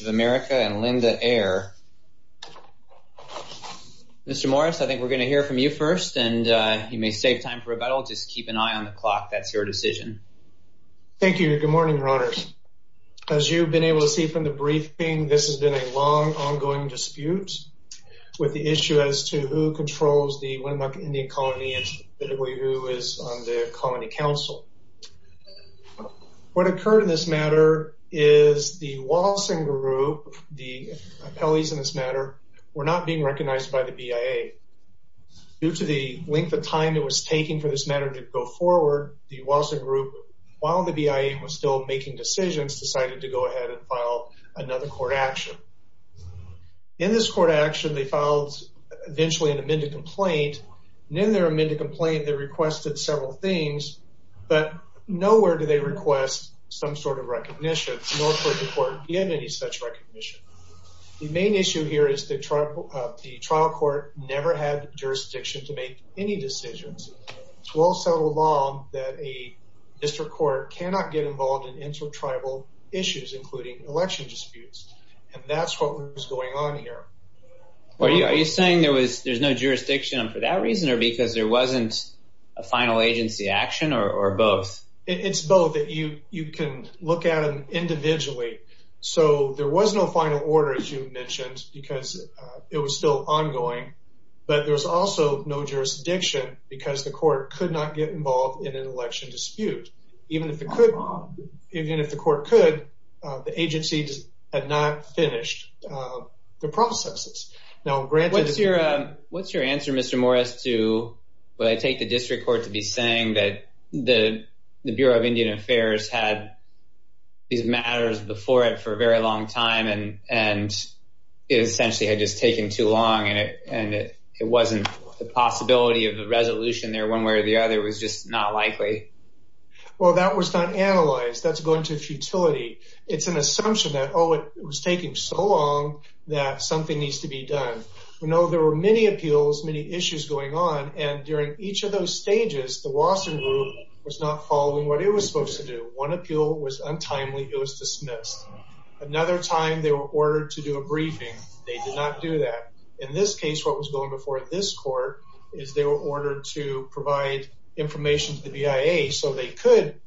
of America and Linda Ayer. Mr. Morris, I think we're going to hear from you first, and you may save time for rebuttal. Just keep an eye on the clock. That's your decision. Thank you. Good morning, Your Honors. As you've been able to see from the briefing, this has been a long, ongoing dispute with the issue, as you know, of whether or not the Indian Colony is to who controls the Winnemucca Indian Colony and specifically who is on the Colony Council. What occurred in this matter is the Walsing Group, the appellees in this matter, were not being recognized by the BIA. Due to the length of time it was taking for this matter to go forward, the Walsing Group, while the BIA was still making decisions, decided to go ahead and file another court action. In this court action, they filed, eventually, an amended complaint. And in their amended complaint, they requested several things, but nowhere do they request some sort of recognition. Nor could the court give any such recognition. The main issue here is the trial court never had jurisdiction to make any decisions. It's well settled law that a district court cannot get involved in and that's what was going on here. Are you saying there's no jurisdiction for that reason or because there wasn't a final agency action or both? It's both. You can look at them individually. So there was no final order, as you mentioned, because it was still ongoing. But there was also no jurisdiction because the court could not get involved in an election dispute. Even if the court could, the agency had not finished the processes. What's your answer, Mr. Morris, when I take the district court to be saying that the Bureau of Indian Affairs had these matters before it for a very long time and it essentially had just taken too long and it wasn't the possibility of the resolution there, one way or the other, was just not likely? Well, that was not analyzed. That's going to futility. It's an assumption that, oh, it was taking so long that something needs to be done. We know there were many appeals, many issues going on, and during each of those stages, the Wasserman Group was not following what it was supposed to do. One appeal was untimely. It was dismissed. Another time, they were ordered to do a briefing. They did not do that. In this case, what was going before this court is they were ordered to provide information to the BIA so they could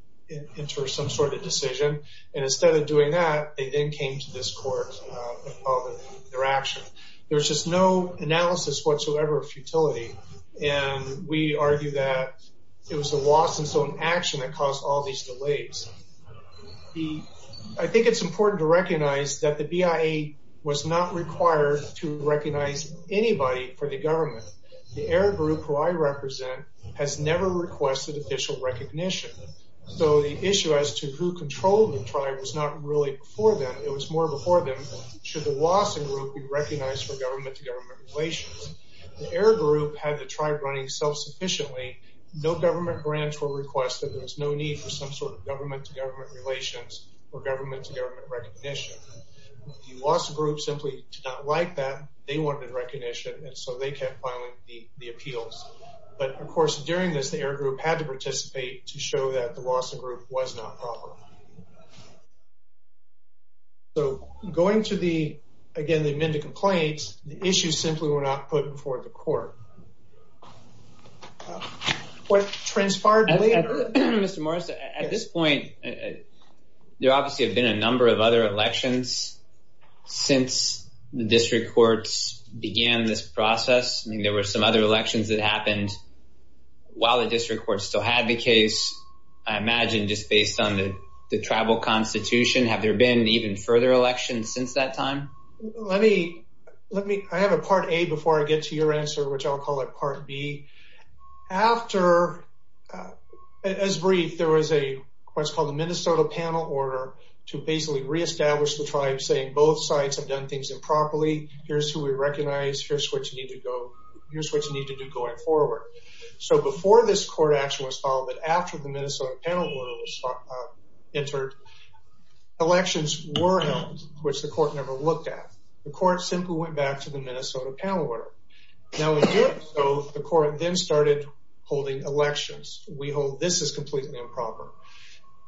enter some sort of decision, and instead of doing that, they then came to this court and filed their action. There was just no analysis whatsoever of futility, and we argue that it was the Wasserman's own action that caused all these delays. I think it's important to recognize that the BIA was not required to recognize anybody for the government. The Air Group, who I represent, has never requested official recognition, so the issue as to who controlled the tribe was not really before them. It was more before them. Should the Wasserman Group be recognized for government-to-government relations? The Air Group had the tribe running self-sufficiently. No government grants were requested. There was no need for some sort of government-to-government relations or government-to-government recognition. The Wasserman Group simply did not like that. They wanted recognition, and so they kept filing the appeals. But, of course, during this, the Air Group had to participate to show that the Wasserman Group was not proper. So, going to the, again, the amended complaints, the issues simply were not put before the court. What transpired later... Mr. Morris, at this point, there obviously have been a number of other elections since the district courts began this process. I mean, there were some other elections that happened while the district courts still had the case. I imagine, just based on the tribal constitution, have there been even further elections since that time? Let me... I have a Part A before I get to your answer, which I'll call it Part B. After, as brief, there was a, what's called a Minnesota panel order to basically reestablish the tribe, saying both sides have done things improperly. Here's who we recognize. Here's what you need to do going forward. So, before this court action was filed, but after the Minnesota panel order was entered, elections were held, which the court never looked at. The court simply went back to the Minnesota panel order. Now, in doing so, the court then started holding elections. We hold this as completely improper.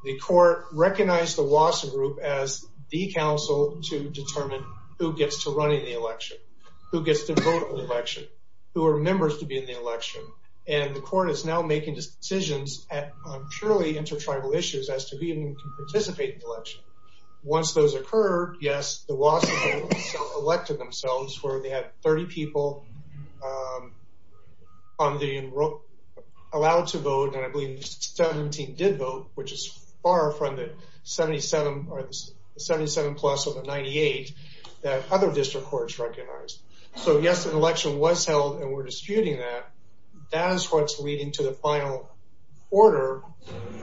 The court recognized the Wasserman Group as the council to determine who gets to run in the election, who gets to vote in the election, who are members to be in the election, and the court is now making decisions on purely intertribal issues as to who even can participate in the election. Once those occurred, yes, the Wasserman Group elected themselves where they had 30 people allowed to vote, and I believe 17 did vote, which is far from the 77 plus or the 98 that other district courts recognized. So, yes, an election was held, and we're disputing that. That is what's leading to the final order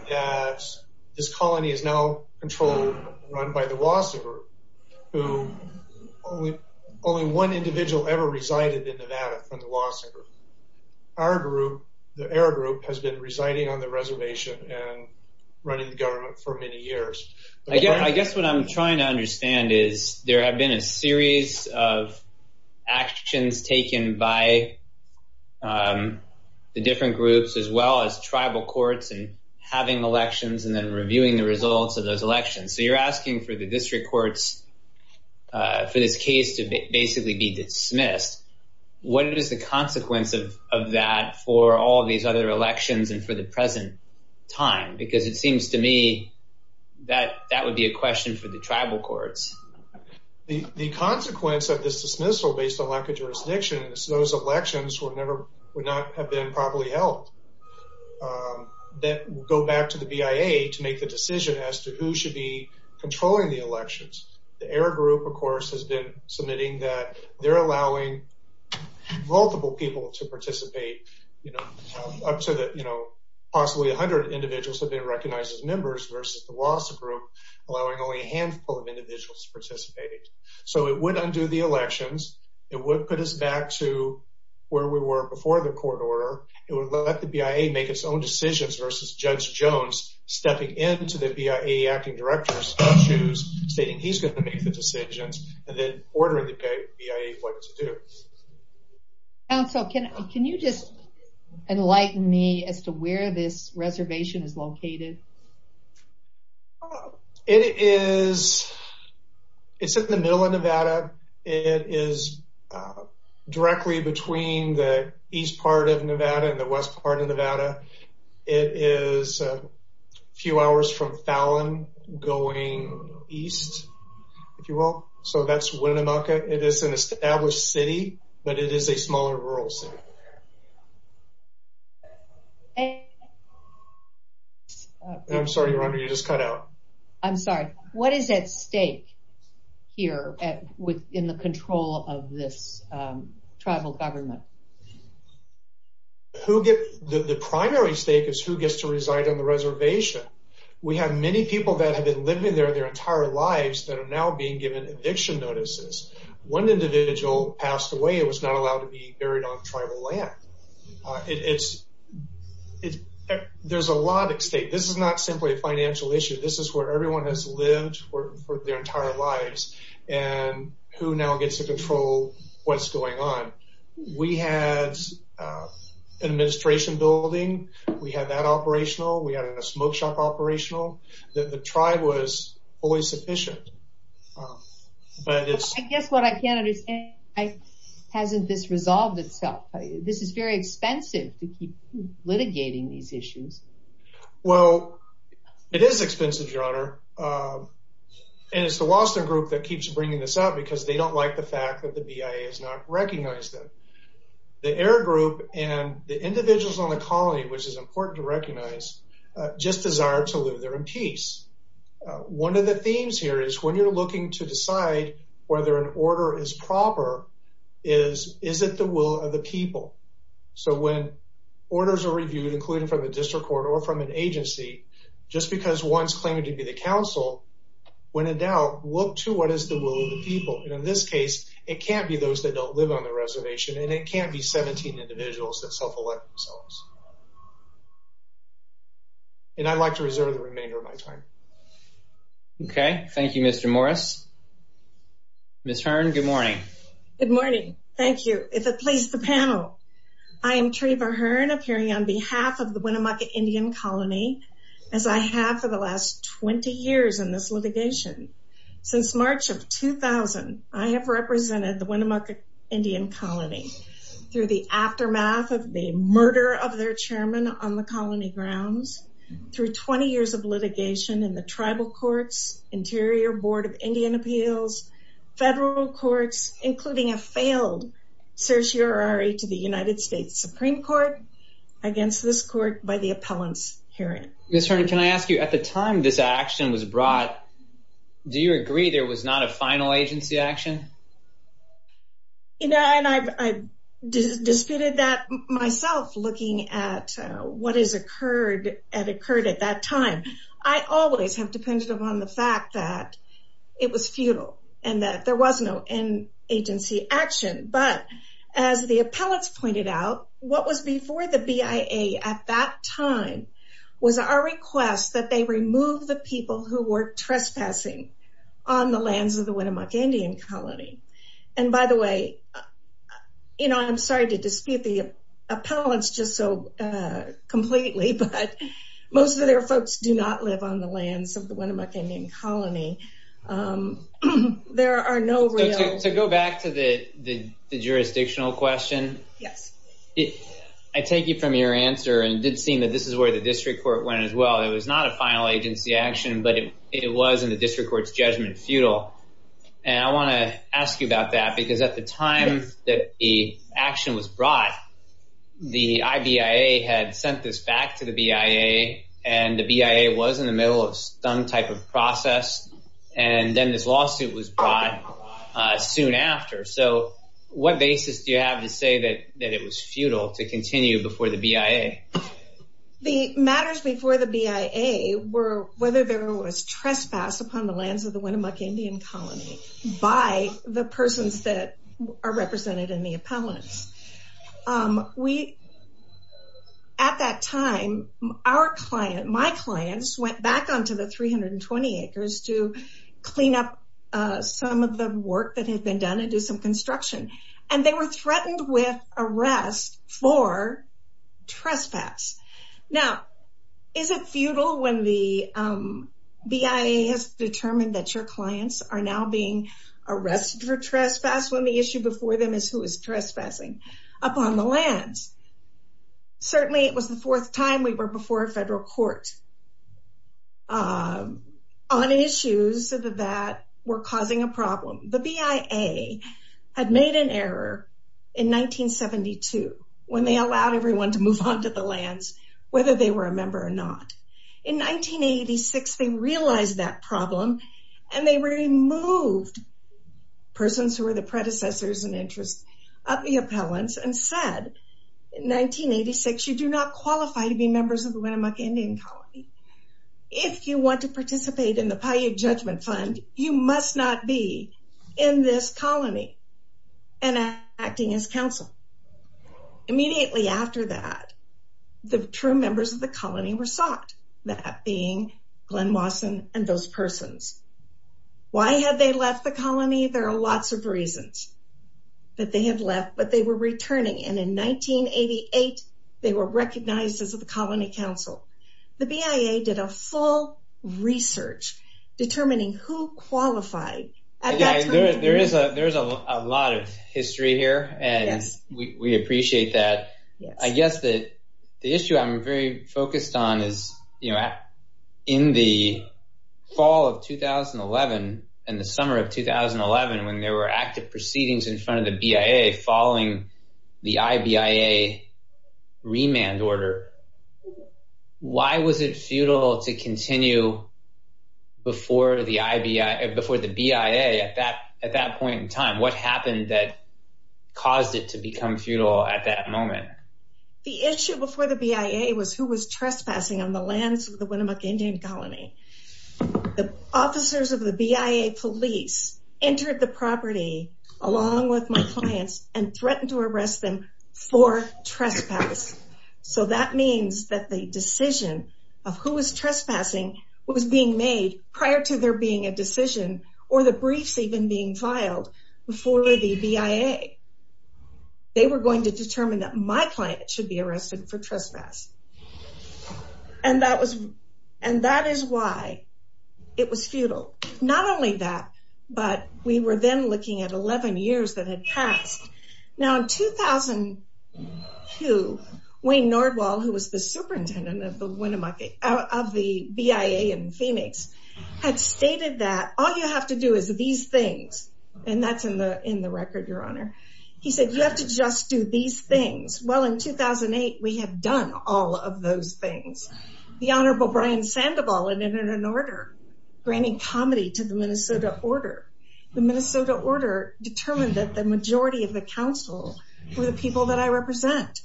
that this colony is now controlled, run by the Wasserman Group, who only one individual ever resided in Nevada from the Wasserman Group. Our group, the Ayer Group, has been residing on the reservation and running the government for many years. I guess what I'm trying to understand is there have been a series of actions taken by the different groups as well as tribal courts and having elections and then reviewing the results of those elections. So you're asking for the district courts for this case to basically be dismissed. What is the consequence of that for all these other elections and for the present time? Because it seems to me that that would be a question for the tribal courts. The consequence of this dismissal, based on lack of jurisdiction, is those elections would not have been properly held. That would go back to the BIA to make the decision as to who should be controlling the elections. The Ayer Group, of course, has been submitting that they're allowing multiple people to participate. Possibly 100 individuals have been recognized as members versus the Wasserman Group, allowing only a handful of individuals to participate. So it would undo the elections. It would put us back to where we were before the court order. It would let the BIA make its own decisions versus Judge Jones stepping into the BIA acting director's shoes, stating he's going to make the decisions and then ordering the BIA what to do. Counsel, can you just enlighten me as to where this reservation is located? It is in the middle of Nevada. It is directly between the east part of Nevada and the west part of Nevada. It is a few hours from Fallon going east, if you will. So that's Winnemucca. It is an established city, but it is a smaller rural city. I'm sorry, Rhonda, you just cut out. I'm sorry. What is at stake here in the control of this tribal government? The primary stake is who gets to reside on the reservation. We have many people that have been living there their entire lives that are now being given eviction notices. One individual passed away and was not allowed to be buried on tribal land. There's a lot at stake. This is not simply a financial issue. This is where everyone has lived their entire lives and who now gets to control what's going on. We had an administration building. We had that operational. We had a smoke shop operational. The tribe was always sufficient. I guess what I can't understand is why hasn't this resolved itself? This is very expensive to keep litigating these issues. Well, it is expensive, Your Honor. It's the Wollstone Group that keeps bringing this up because they don't like the fact that the BIA has not recognized them. The Air Group and the individuals on the colony, which is important to recognize, just desire to live there in peace. One of the themes here is when you're looking to decide whether an order is proper, is it the will of the people? So when orders are reviewed, including from the district court or from an agency, just because one's claiming to be the council, when in doubt, look to what is the will of the people. In this case, it can't be those that don't live on the reservation, and it can't be 17 individuals that self-elect themselves. And I'd like to reserve the remainder of my time. Okay. Thank you, Mr. Morris. Ms. Hearn, good morning. Good morning. Thank you. If it pleases the panel, I am Treva Hearn, appearing on behalf of the Winnemucca Indian Colony, as I have for the last 20 years in this litigation. Since March of 2000, I have represented the Winnemucca Indian Colony through the aftermath of the murder of their chairman on the colony grounds, through 20 years of litigation in the tribal courts, Interior Board of Indian Appeals, federal courts, including a failed certiorari to the United States Supreme Court, against this court by the appellant's hearing. Ms. Hearn, can I ask you, at the time this action was brought, do you agree there was not a final agency action? You know, and I've disputed that myself, looking at what has occurred and occurred at that time. I always have depended upon the fact that it was futile, and that there was no end agency action. But as the appellants pointed out, what was before the BIA at that time was our request that they remove the people who were trespassing on the lands of the Winnemucca Indian Colony. And by the way, you know, I'm sorry to dispute the appellants just so completely, but most of their folks do not live on the lands of the Winnemucca Indian Colony. There are no real... To go back to the jurisdictional question, I take it from your answer, and it did seem that this is where the district court went as well. It was not a final agency action, but it was in the district court's judgment futile. And I want to ask you about that, because at the time that the action was brought, the IBIA had sent this back to the BIA, and the BIA was in the middle of some type of process, and then this lawsuit was brought soon after. So what basis do you have to say that it was futile to continue before the BIA? The matters before the BIA were whether there was trespass upon the lands of the Winnemucca Indian Colony by the persons that are represented in the appellants. At that time, our client, my clients, went back onto the 320 acres to clean up some of the work that had been done and do some construction. And they were threatened with arrest for trespass. Now, is it futile when the BIA has determined that your clients are now being arrested for trespass when the issue before them is who is trespassing upon the lands? Certainly, it was the fourth time we were before a federal court on issues that were causing a problem. The BIA had made an error in 1972 when they allowed everyone to move onto the lands, whether they were a member or not. In 1986, they realized that problem, and they removed persons who were the predecessors and interests of the appellants and said, In 1986, you do not qualify to be members of the Winnemucca Indian Colony. If you want to participate in the Paiute Judgment Fund, you must not be in this colony and acting as counsel. Immediately after that, the true members of the colony were sought, that being Glenn Wasson and those persons. Why had they left the colony? There are lots of reasons that they had left, but they were returning. And in 1988, they were recognized as the colony counsel. The BIA did a full research determining who qualified. There is a lot of history here, and we appreciate that. I guess the issue I'm very focused on is, in the fall of 2011 and the summer of 2011, when there were active proceedings in front of the BIA following the IBIA remand order, why was it futile to continue before the BIA at that point in time? What happened that caused it to become futile at that moment? The issue before the BIA was who was trespassing on the lands of the Winnemucca Indian Colony. The officers of the BIA police entered the property along with my clients and threatened to arrest them for trespass. So that means that the decision of who was trespassing was being made prior to there being a decision, or the briefs even being filed before the BIA. They were going to determine that my client should be arrested for trespass. And that is why it was futile. Not only that, but we were then looking at 11 years that had passed. Now, in 2002, Wayne Nordwall, who was the superintendent of the BIA in Phoenix, had stated that all you have to do is these things. And that's in the record, Your Honor. He said, you have to just do these things. Well, in 2008, we had done all of those things. The Honorable Brian Sandoval had entered an order granting comedy to the Minnesota Order. The Minnesota Order determined that the majority of the council were the people that I represent.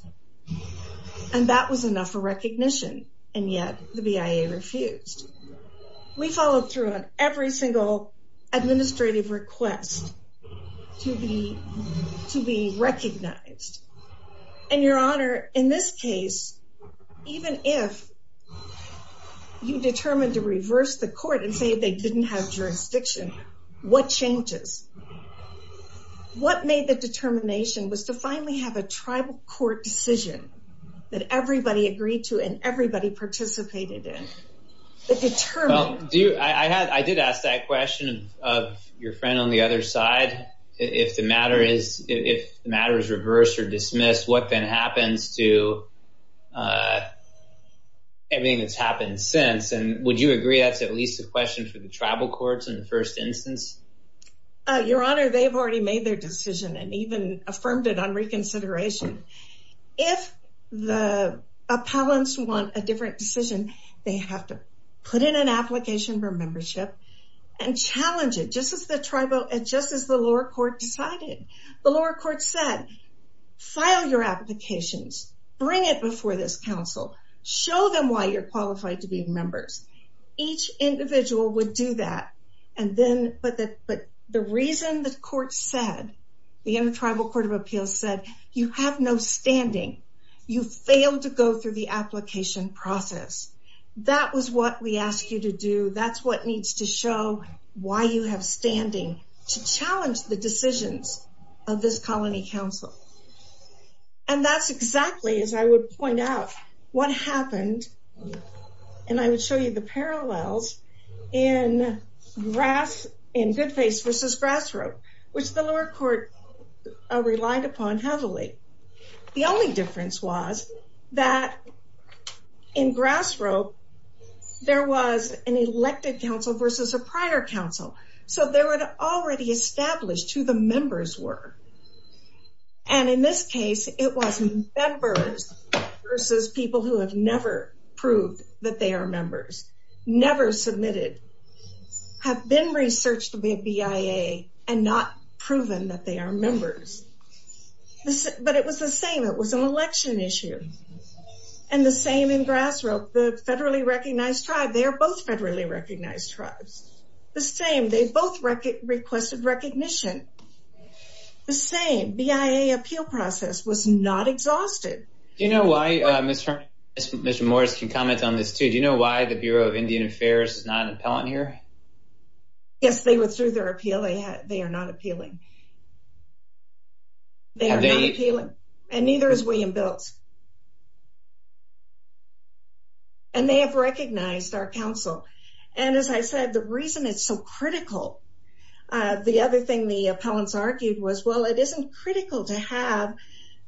And that was enough for recognition. And yet, the BIA refused. We followed through on every single administrative request to be recognized. And, Your Honor, in this case, even if you determined to reverse the court and say they didn't have jurisdiction, what changes? What made the determination was to finally have a tribal court decision that everybody agreed to and everybody participated in. I did ask that question of your friend on the other side. If the matter is reversed or dismissed, what then happens to everything that's happened since? And would you agree that's at least a question for the tribal courts in the first instance? Your Honor, they've already made their decision and even affirmed it on reconsideration. If the appellants want a different decision, they have to put in an application for membership and challenge it just as the lower court decided. The lower court said, file your applications. Bring it before this council. Show them why you're qualified to be members. Each individual would do that. But the reason the court said, the tribal court of appeals said, you have no standing. You failed to go through the application process. That was what we asked you to do. That's what needs to show why you have standing to challenge the decisions of this colony council. And that's exactly, as I would point out, what happened. And I would show you the parallels in Goodface v. Grass Rope, which the lower court relied upon heavily. The only difference was that in Grass Rope, there was an elected council versus a prior council. So they were already established who the members were. And in this case, it was members versus people who have never proved that they are members. Never submitted. Have been researched by BIA and not proven that they are members. But it was the same. It was an election issue. And the same in Grass Rope. The federally recognized tribe, they are both federally recognized tribes. The same. They both requested recognition. The same. BIA appeal process was not exhausted. Do you know why Mr. Morris can comment on this too? Do you know why the Bureau of Indian Affairs is not an appellant here? Yes, they withdrew their appeal. They are not appealing. Have they? And neither is William Biltz. And they have recognized our council. And as I said, the reason it's so critical, the other thing the appellants argued was, well, it isn't critical to have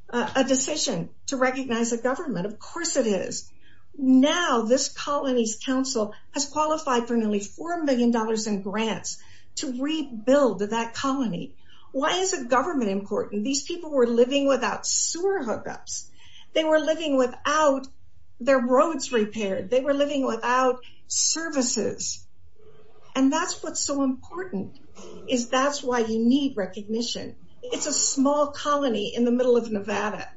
a decision to recognize a government. Of course it is. Now this colony's council has qualified for nearly $4 million in grants to rebuild that colony. Why is the government important? These people were living without sewer hookups. They were living without their roads repaired. They were living without services. And that's what's so important is that's why you need recognition. It's a small colony in the middle of Nevada.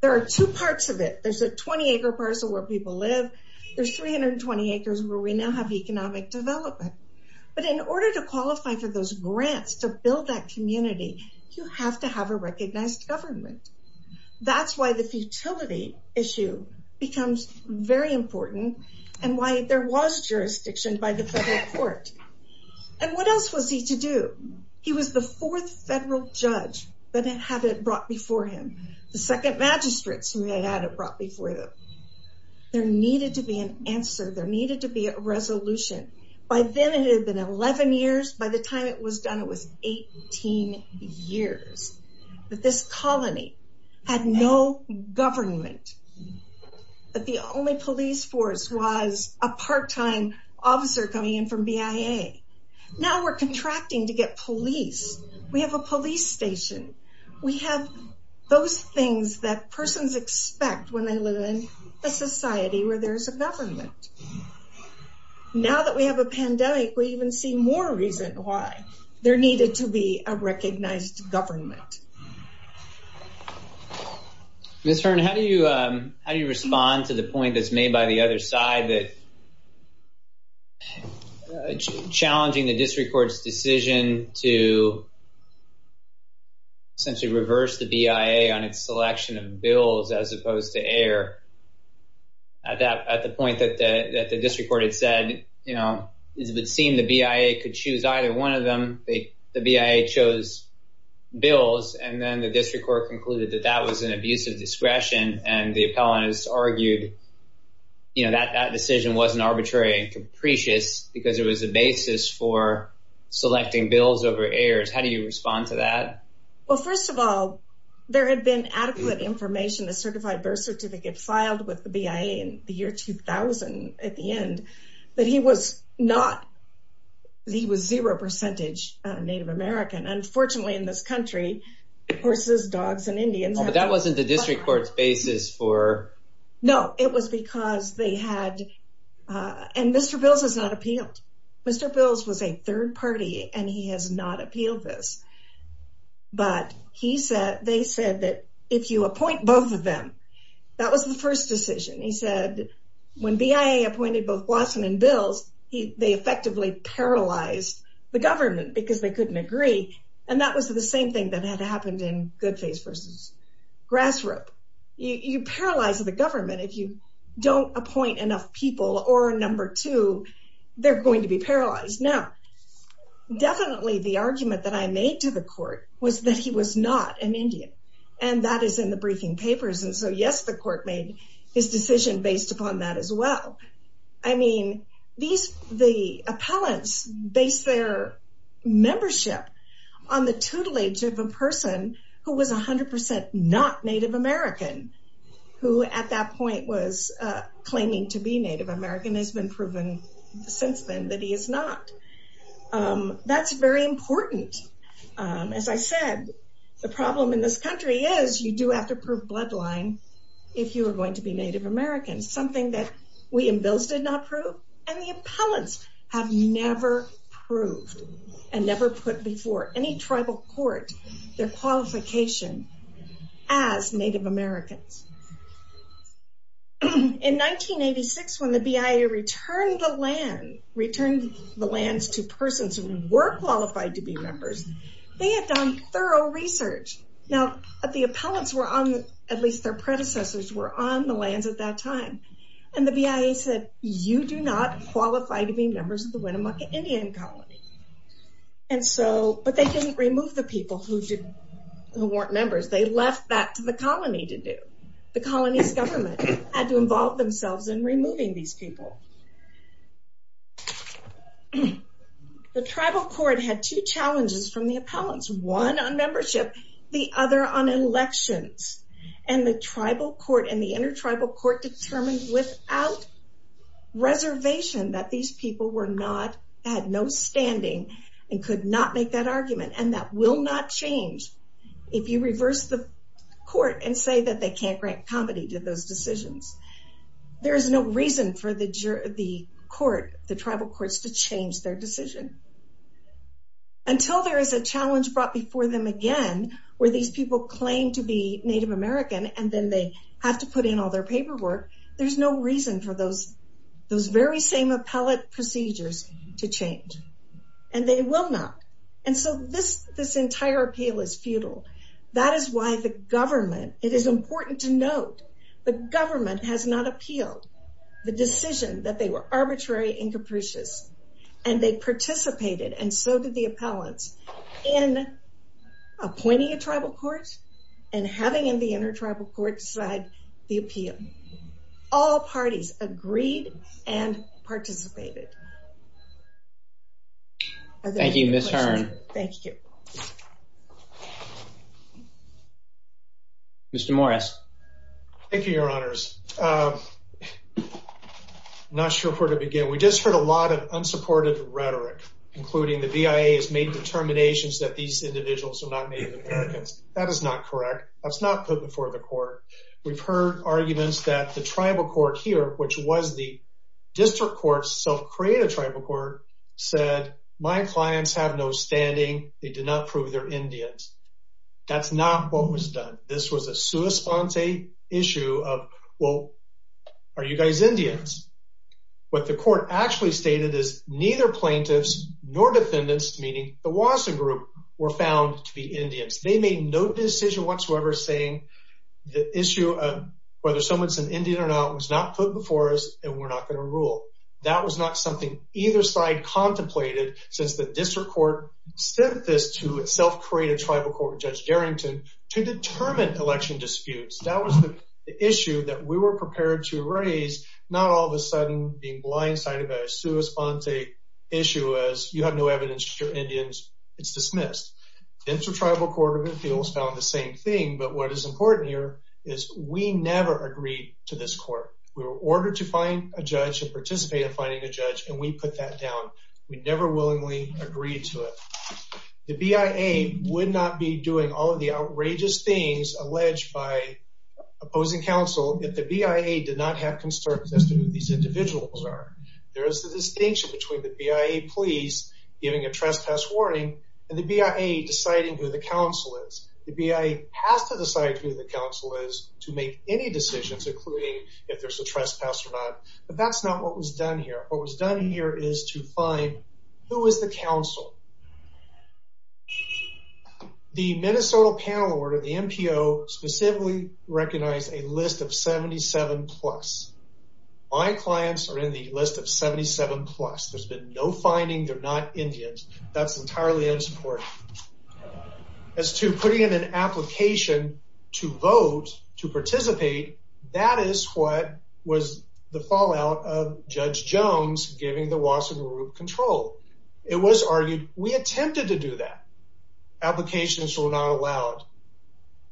There are two parts of it. There's a 20-acre parcel where people live. There's 320 acres where we now have economic development. But in order to qualify for those grants to build that community, you have to have a recognized government. That's why the futility issue becomes very important and why there was jurisdiction by the federal court. And what else was he to do? He was the fourth federal judge that had it brought before him, the second magistrates who had it brought before them. There needed to be an answer. There needed to be a resolution. By then, it had been 11 years. By the time it was done, it was 18 years. But this colony had no government. The only police force was a part-time officer coming in from BIA. Now we're contracting to get police. We have a police station. We have those things that persons expect when they live in a society where there's a government. Now that we have a pandemic, we even see more reason why there needed to be a recognized government. Ms. Hearn, how do you respond to the point that's made by the other side that challenging the district court's decision to essentially reverse the BIA on its selection of bills as opposed to air At the point that the district court had said, you know, it would seem the BIA could choose either one of them. The BIA chose bills. And then the district court concluded that that was an abuse of discretion. And the appellant has argued, you know, that that decision wasn't arbitrary and capricious because it was a basis for selecting bills over airs. How do you respond to that? Well, first of all, there had been adequate information. The certified birth certificate filed with the BIA in the year 2000 at the end that he was not. He was zero percentage Native American, unfortunately, in this country, horses, dogs and Indians. But that wasn't the district court's basis for. No, it was because they had. And Mr. Bills has not appealed. Mr. Bills was a third party and he has not appealed this. But he said they said that if you appoint both of them, that was the first decision. He said when BIA appointed both Blossom and Bills, they effectively paralyzed the government because they couldn't agree. And that was the same thing that had happened in Goodface versus Grassrop. You paralyze the government if you don't appoint enough people or a number two, they're going to be paralyzed. Now, definitely the argument that I made to the court was that he was not an Indian. And that is in the briefing papers. And so, yes, the court made his decision based upon that as well. I mean, these the appellants based their membership on the tutelage of a person who was 100 percent not Native American. Who at that point was claiming to be Native American has been proven since then that he is not. That's very important. As I said, the problem in this country is you do have to prove bloodline if you are going to be Native American. Something that we and Bills did not prove. And the appellants have never proved and never put before any tribal court their qualification as Native Americans. In 1986, when the BIA returned the land, returned the lands to persons who were qualified to be members, they had done thorough research. Now, the appellants were on, at least their predecessors were on the lands at that time. And the BIA said, you do not qualify to be members of the Winnemucca Indian Colony. And so, but they didn't remove the people who weren't members. They left that to the colony to do. The colony's government had to involve themselves in removing these people. The tribal court had two challenges from the appellants. One on membership, the other on elections. And the tribal court and the intertribal court determined without reservation that these people were not, had no standing and could not make that argument. And that will not change if you reverse the court and say that they can't grant comity to those decisions. There is no reason for the court, the tribal courts to change their decision. Until there is a challenge brought before them again, where these people claim to be Native American and then they have to put in all their paperwork, there's no reason for those, those very same appellate procedures to change. And they will not. And so this, this entire appeal is futile. That is why the government, it is important to note, the government has not appealed the decision that they were arbitrary and capricious. And they participated, and so did the appellants, in appointing a tribal court and having the intertribal court decide the appeal. All parties agreed and participated. Thank you, Ms. Hearn. Thank you. Mr. Morris. Thank you, your honors. I'm not sure where to begin. We just heard a lot of unsupported rhetoric, including the BIA has made determinations that these individuals are not Native Americans. That is not correct. That's not put before the court. We've heard arguments that the tribal court here, which was the district court, self-created tribal court, said, my clients have no standing. They did not prove they're Indians. That's not what was done. This was a sua sponte issue of, well, are you guys Indians? What the court actually stated is neither plaintiffs nor defendants, meaning the Wasson group, were found to be Indians. They made no decision whatsoever saying the issue of whether someone's an Indian or not was not put before us and we're not going to rule. That was not something either side contemplated since the district court sent this to a self-created tribal court, Judge Darrington, to determine election disputes. That was the issue that we were prepared to raise, not all of a sudden being blindsided by a sua sponte issue as you have no evidence that you're Indians. It's dismissed. Intertribal court of appeals found the same thing, but what is important here is we never agreed to this court. We were ordered to find a judge and participate in finding a judge and we put that down. We never willingly agreed to it. The BIA would not be doing all of the outrageous things alleged by opposing counsel if the BIA did not have concerns as to who these individuals are. There is a distinction between the BIA police giving a trespass warning and the BIA deciding who the counsel is. The BIA has to decide who the counsel is to make any decisions, including if there's a trespass or not, but that's not what was done here. What was done here is to find who is the counsel. The Minnesota panel order, the MPO, specifically recognized a list of 77 plus. My clients are in the list of 77 plus. There's been no finding. They're not Indians. That's entirely unsupportive. As to putting in an application to vote, to participate, that is what was the fallout of Judge Jones giving the Wasserman removed control. It was argued we attempted to do that. Applications were not allowed.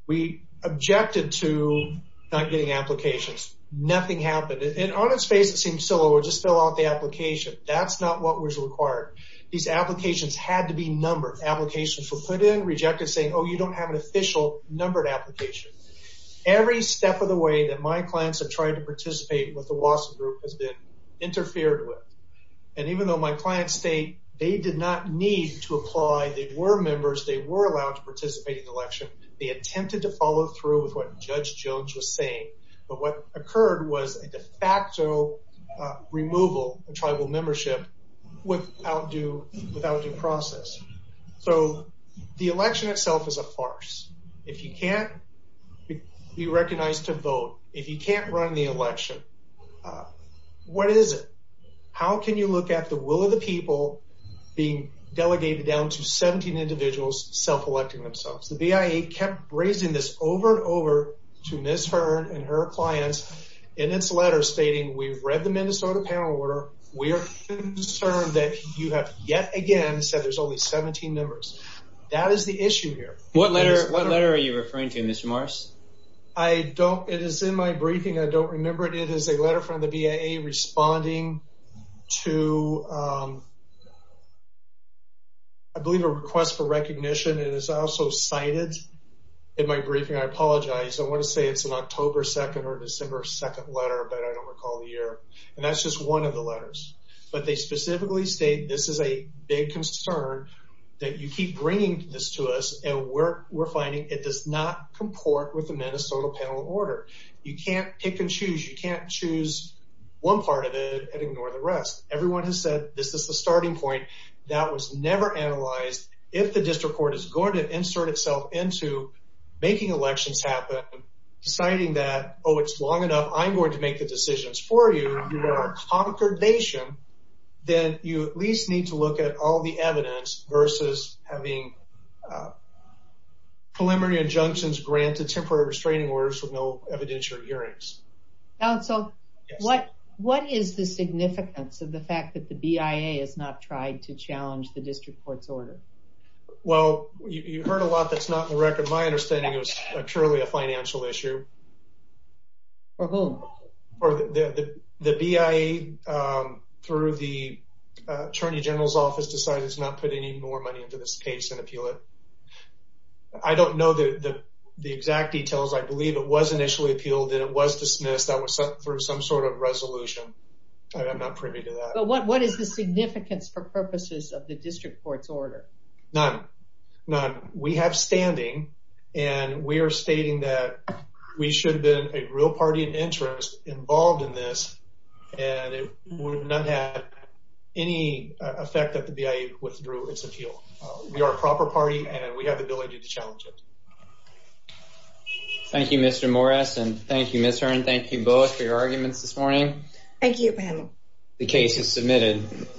We objected to not getting applications. Nothing happened. On its face, it seemed civil. We'll just fill out the application. That's not what was required. These applications had to be numbered. Applications were put in, rejected, saying, oh, you don't have an official numbered application. Every step of the way that my clients have tried to participate with the Wasserman group has been interfered with. And even though my clients state they did not need to apply, they were members, they were allowed to participate in the election, they attempted to follow through with what Judge Jones was saying. But what occurred was a de facto removal of tribal membership without due process. So the election itself is a farce. If you can't be recognized to vote, if you can't run the election, what is it? How can you look at the will of the people being delegated down to 17 individuals self-electing themselves? The BIA kept raising this over and over to Ms. Hearn and her clients in its letter stating, we've read the Minnesota panel order. We are concerned that you have yet again said there's only 17 numbers. That is the issue here. What letter are you referring to, Mr. Morris? I don't. It is in my briefing. I don't remember it. It is a letter from the BIA responding to, I believe, a request for recognition. It is also cited in my briefing. I apologize. I want to say it's an October 2nd or December 2nd letter, but I don't recall the year. And that's just one of the letters. But they specifically state this is a big concern, that you keep bringing this to us, and we're finding it does not comport with the Minnesota panel order. You can't pick and choose. You can't choose one part of it and ignore the rest. Everyone has said this is the starting point. That was never analyzed. If the district court is going to insert itself into making elections happen, deciding that, oh, it's long enough, I'm going to make the decisions for you, you are a conquered nation, then you at least need to look at all the evidence versus having preliminary injunctions granted, temporary restraining orders with no evidentiary hearings. Counsel, what is the significance of the fact that the BIA has not tried to challenge the district court's order? Well, you heard a lot that's not in the record. My understanding is it's purely a financial issue. For whom? The BIA, through the Attorney General's office, decided it's not putting any more money into this case and appeal it. I don't know the exact details. I believe it was initially appealed and it was dismissed through some sort of resolution. I'm not privy to that. But what is the significance for purposes of the district court's order? None. None. We have standing, and we are stating that we should have been a real party in interest involved in this, and it would have not had any effect if the BIA withdrew its appeal. We are a proper party, and we have the ability to challenge it. Thank you, Mr. Morris, and thank you, Ms. Hearn. Thank you both for your arguments this morning. Thank you, panel. The case is submitted.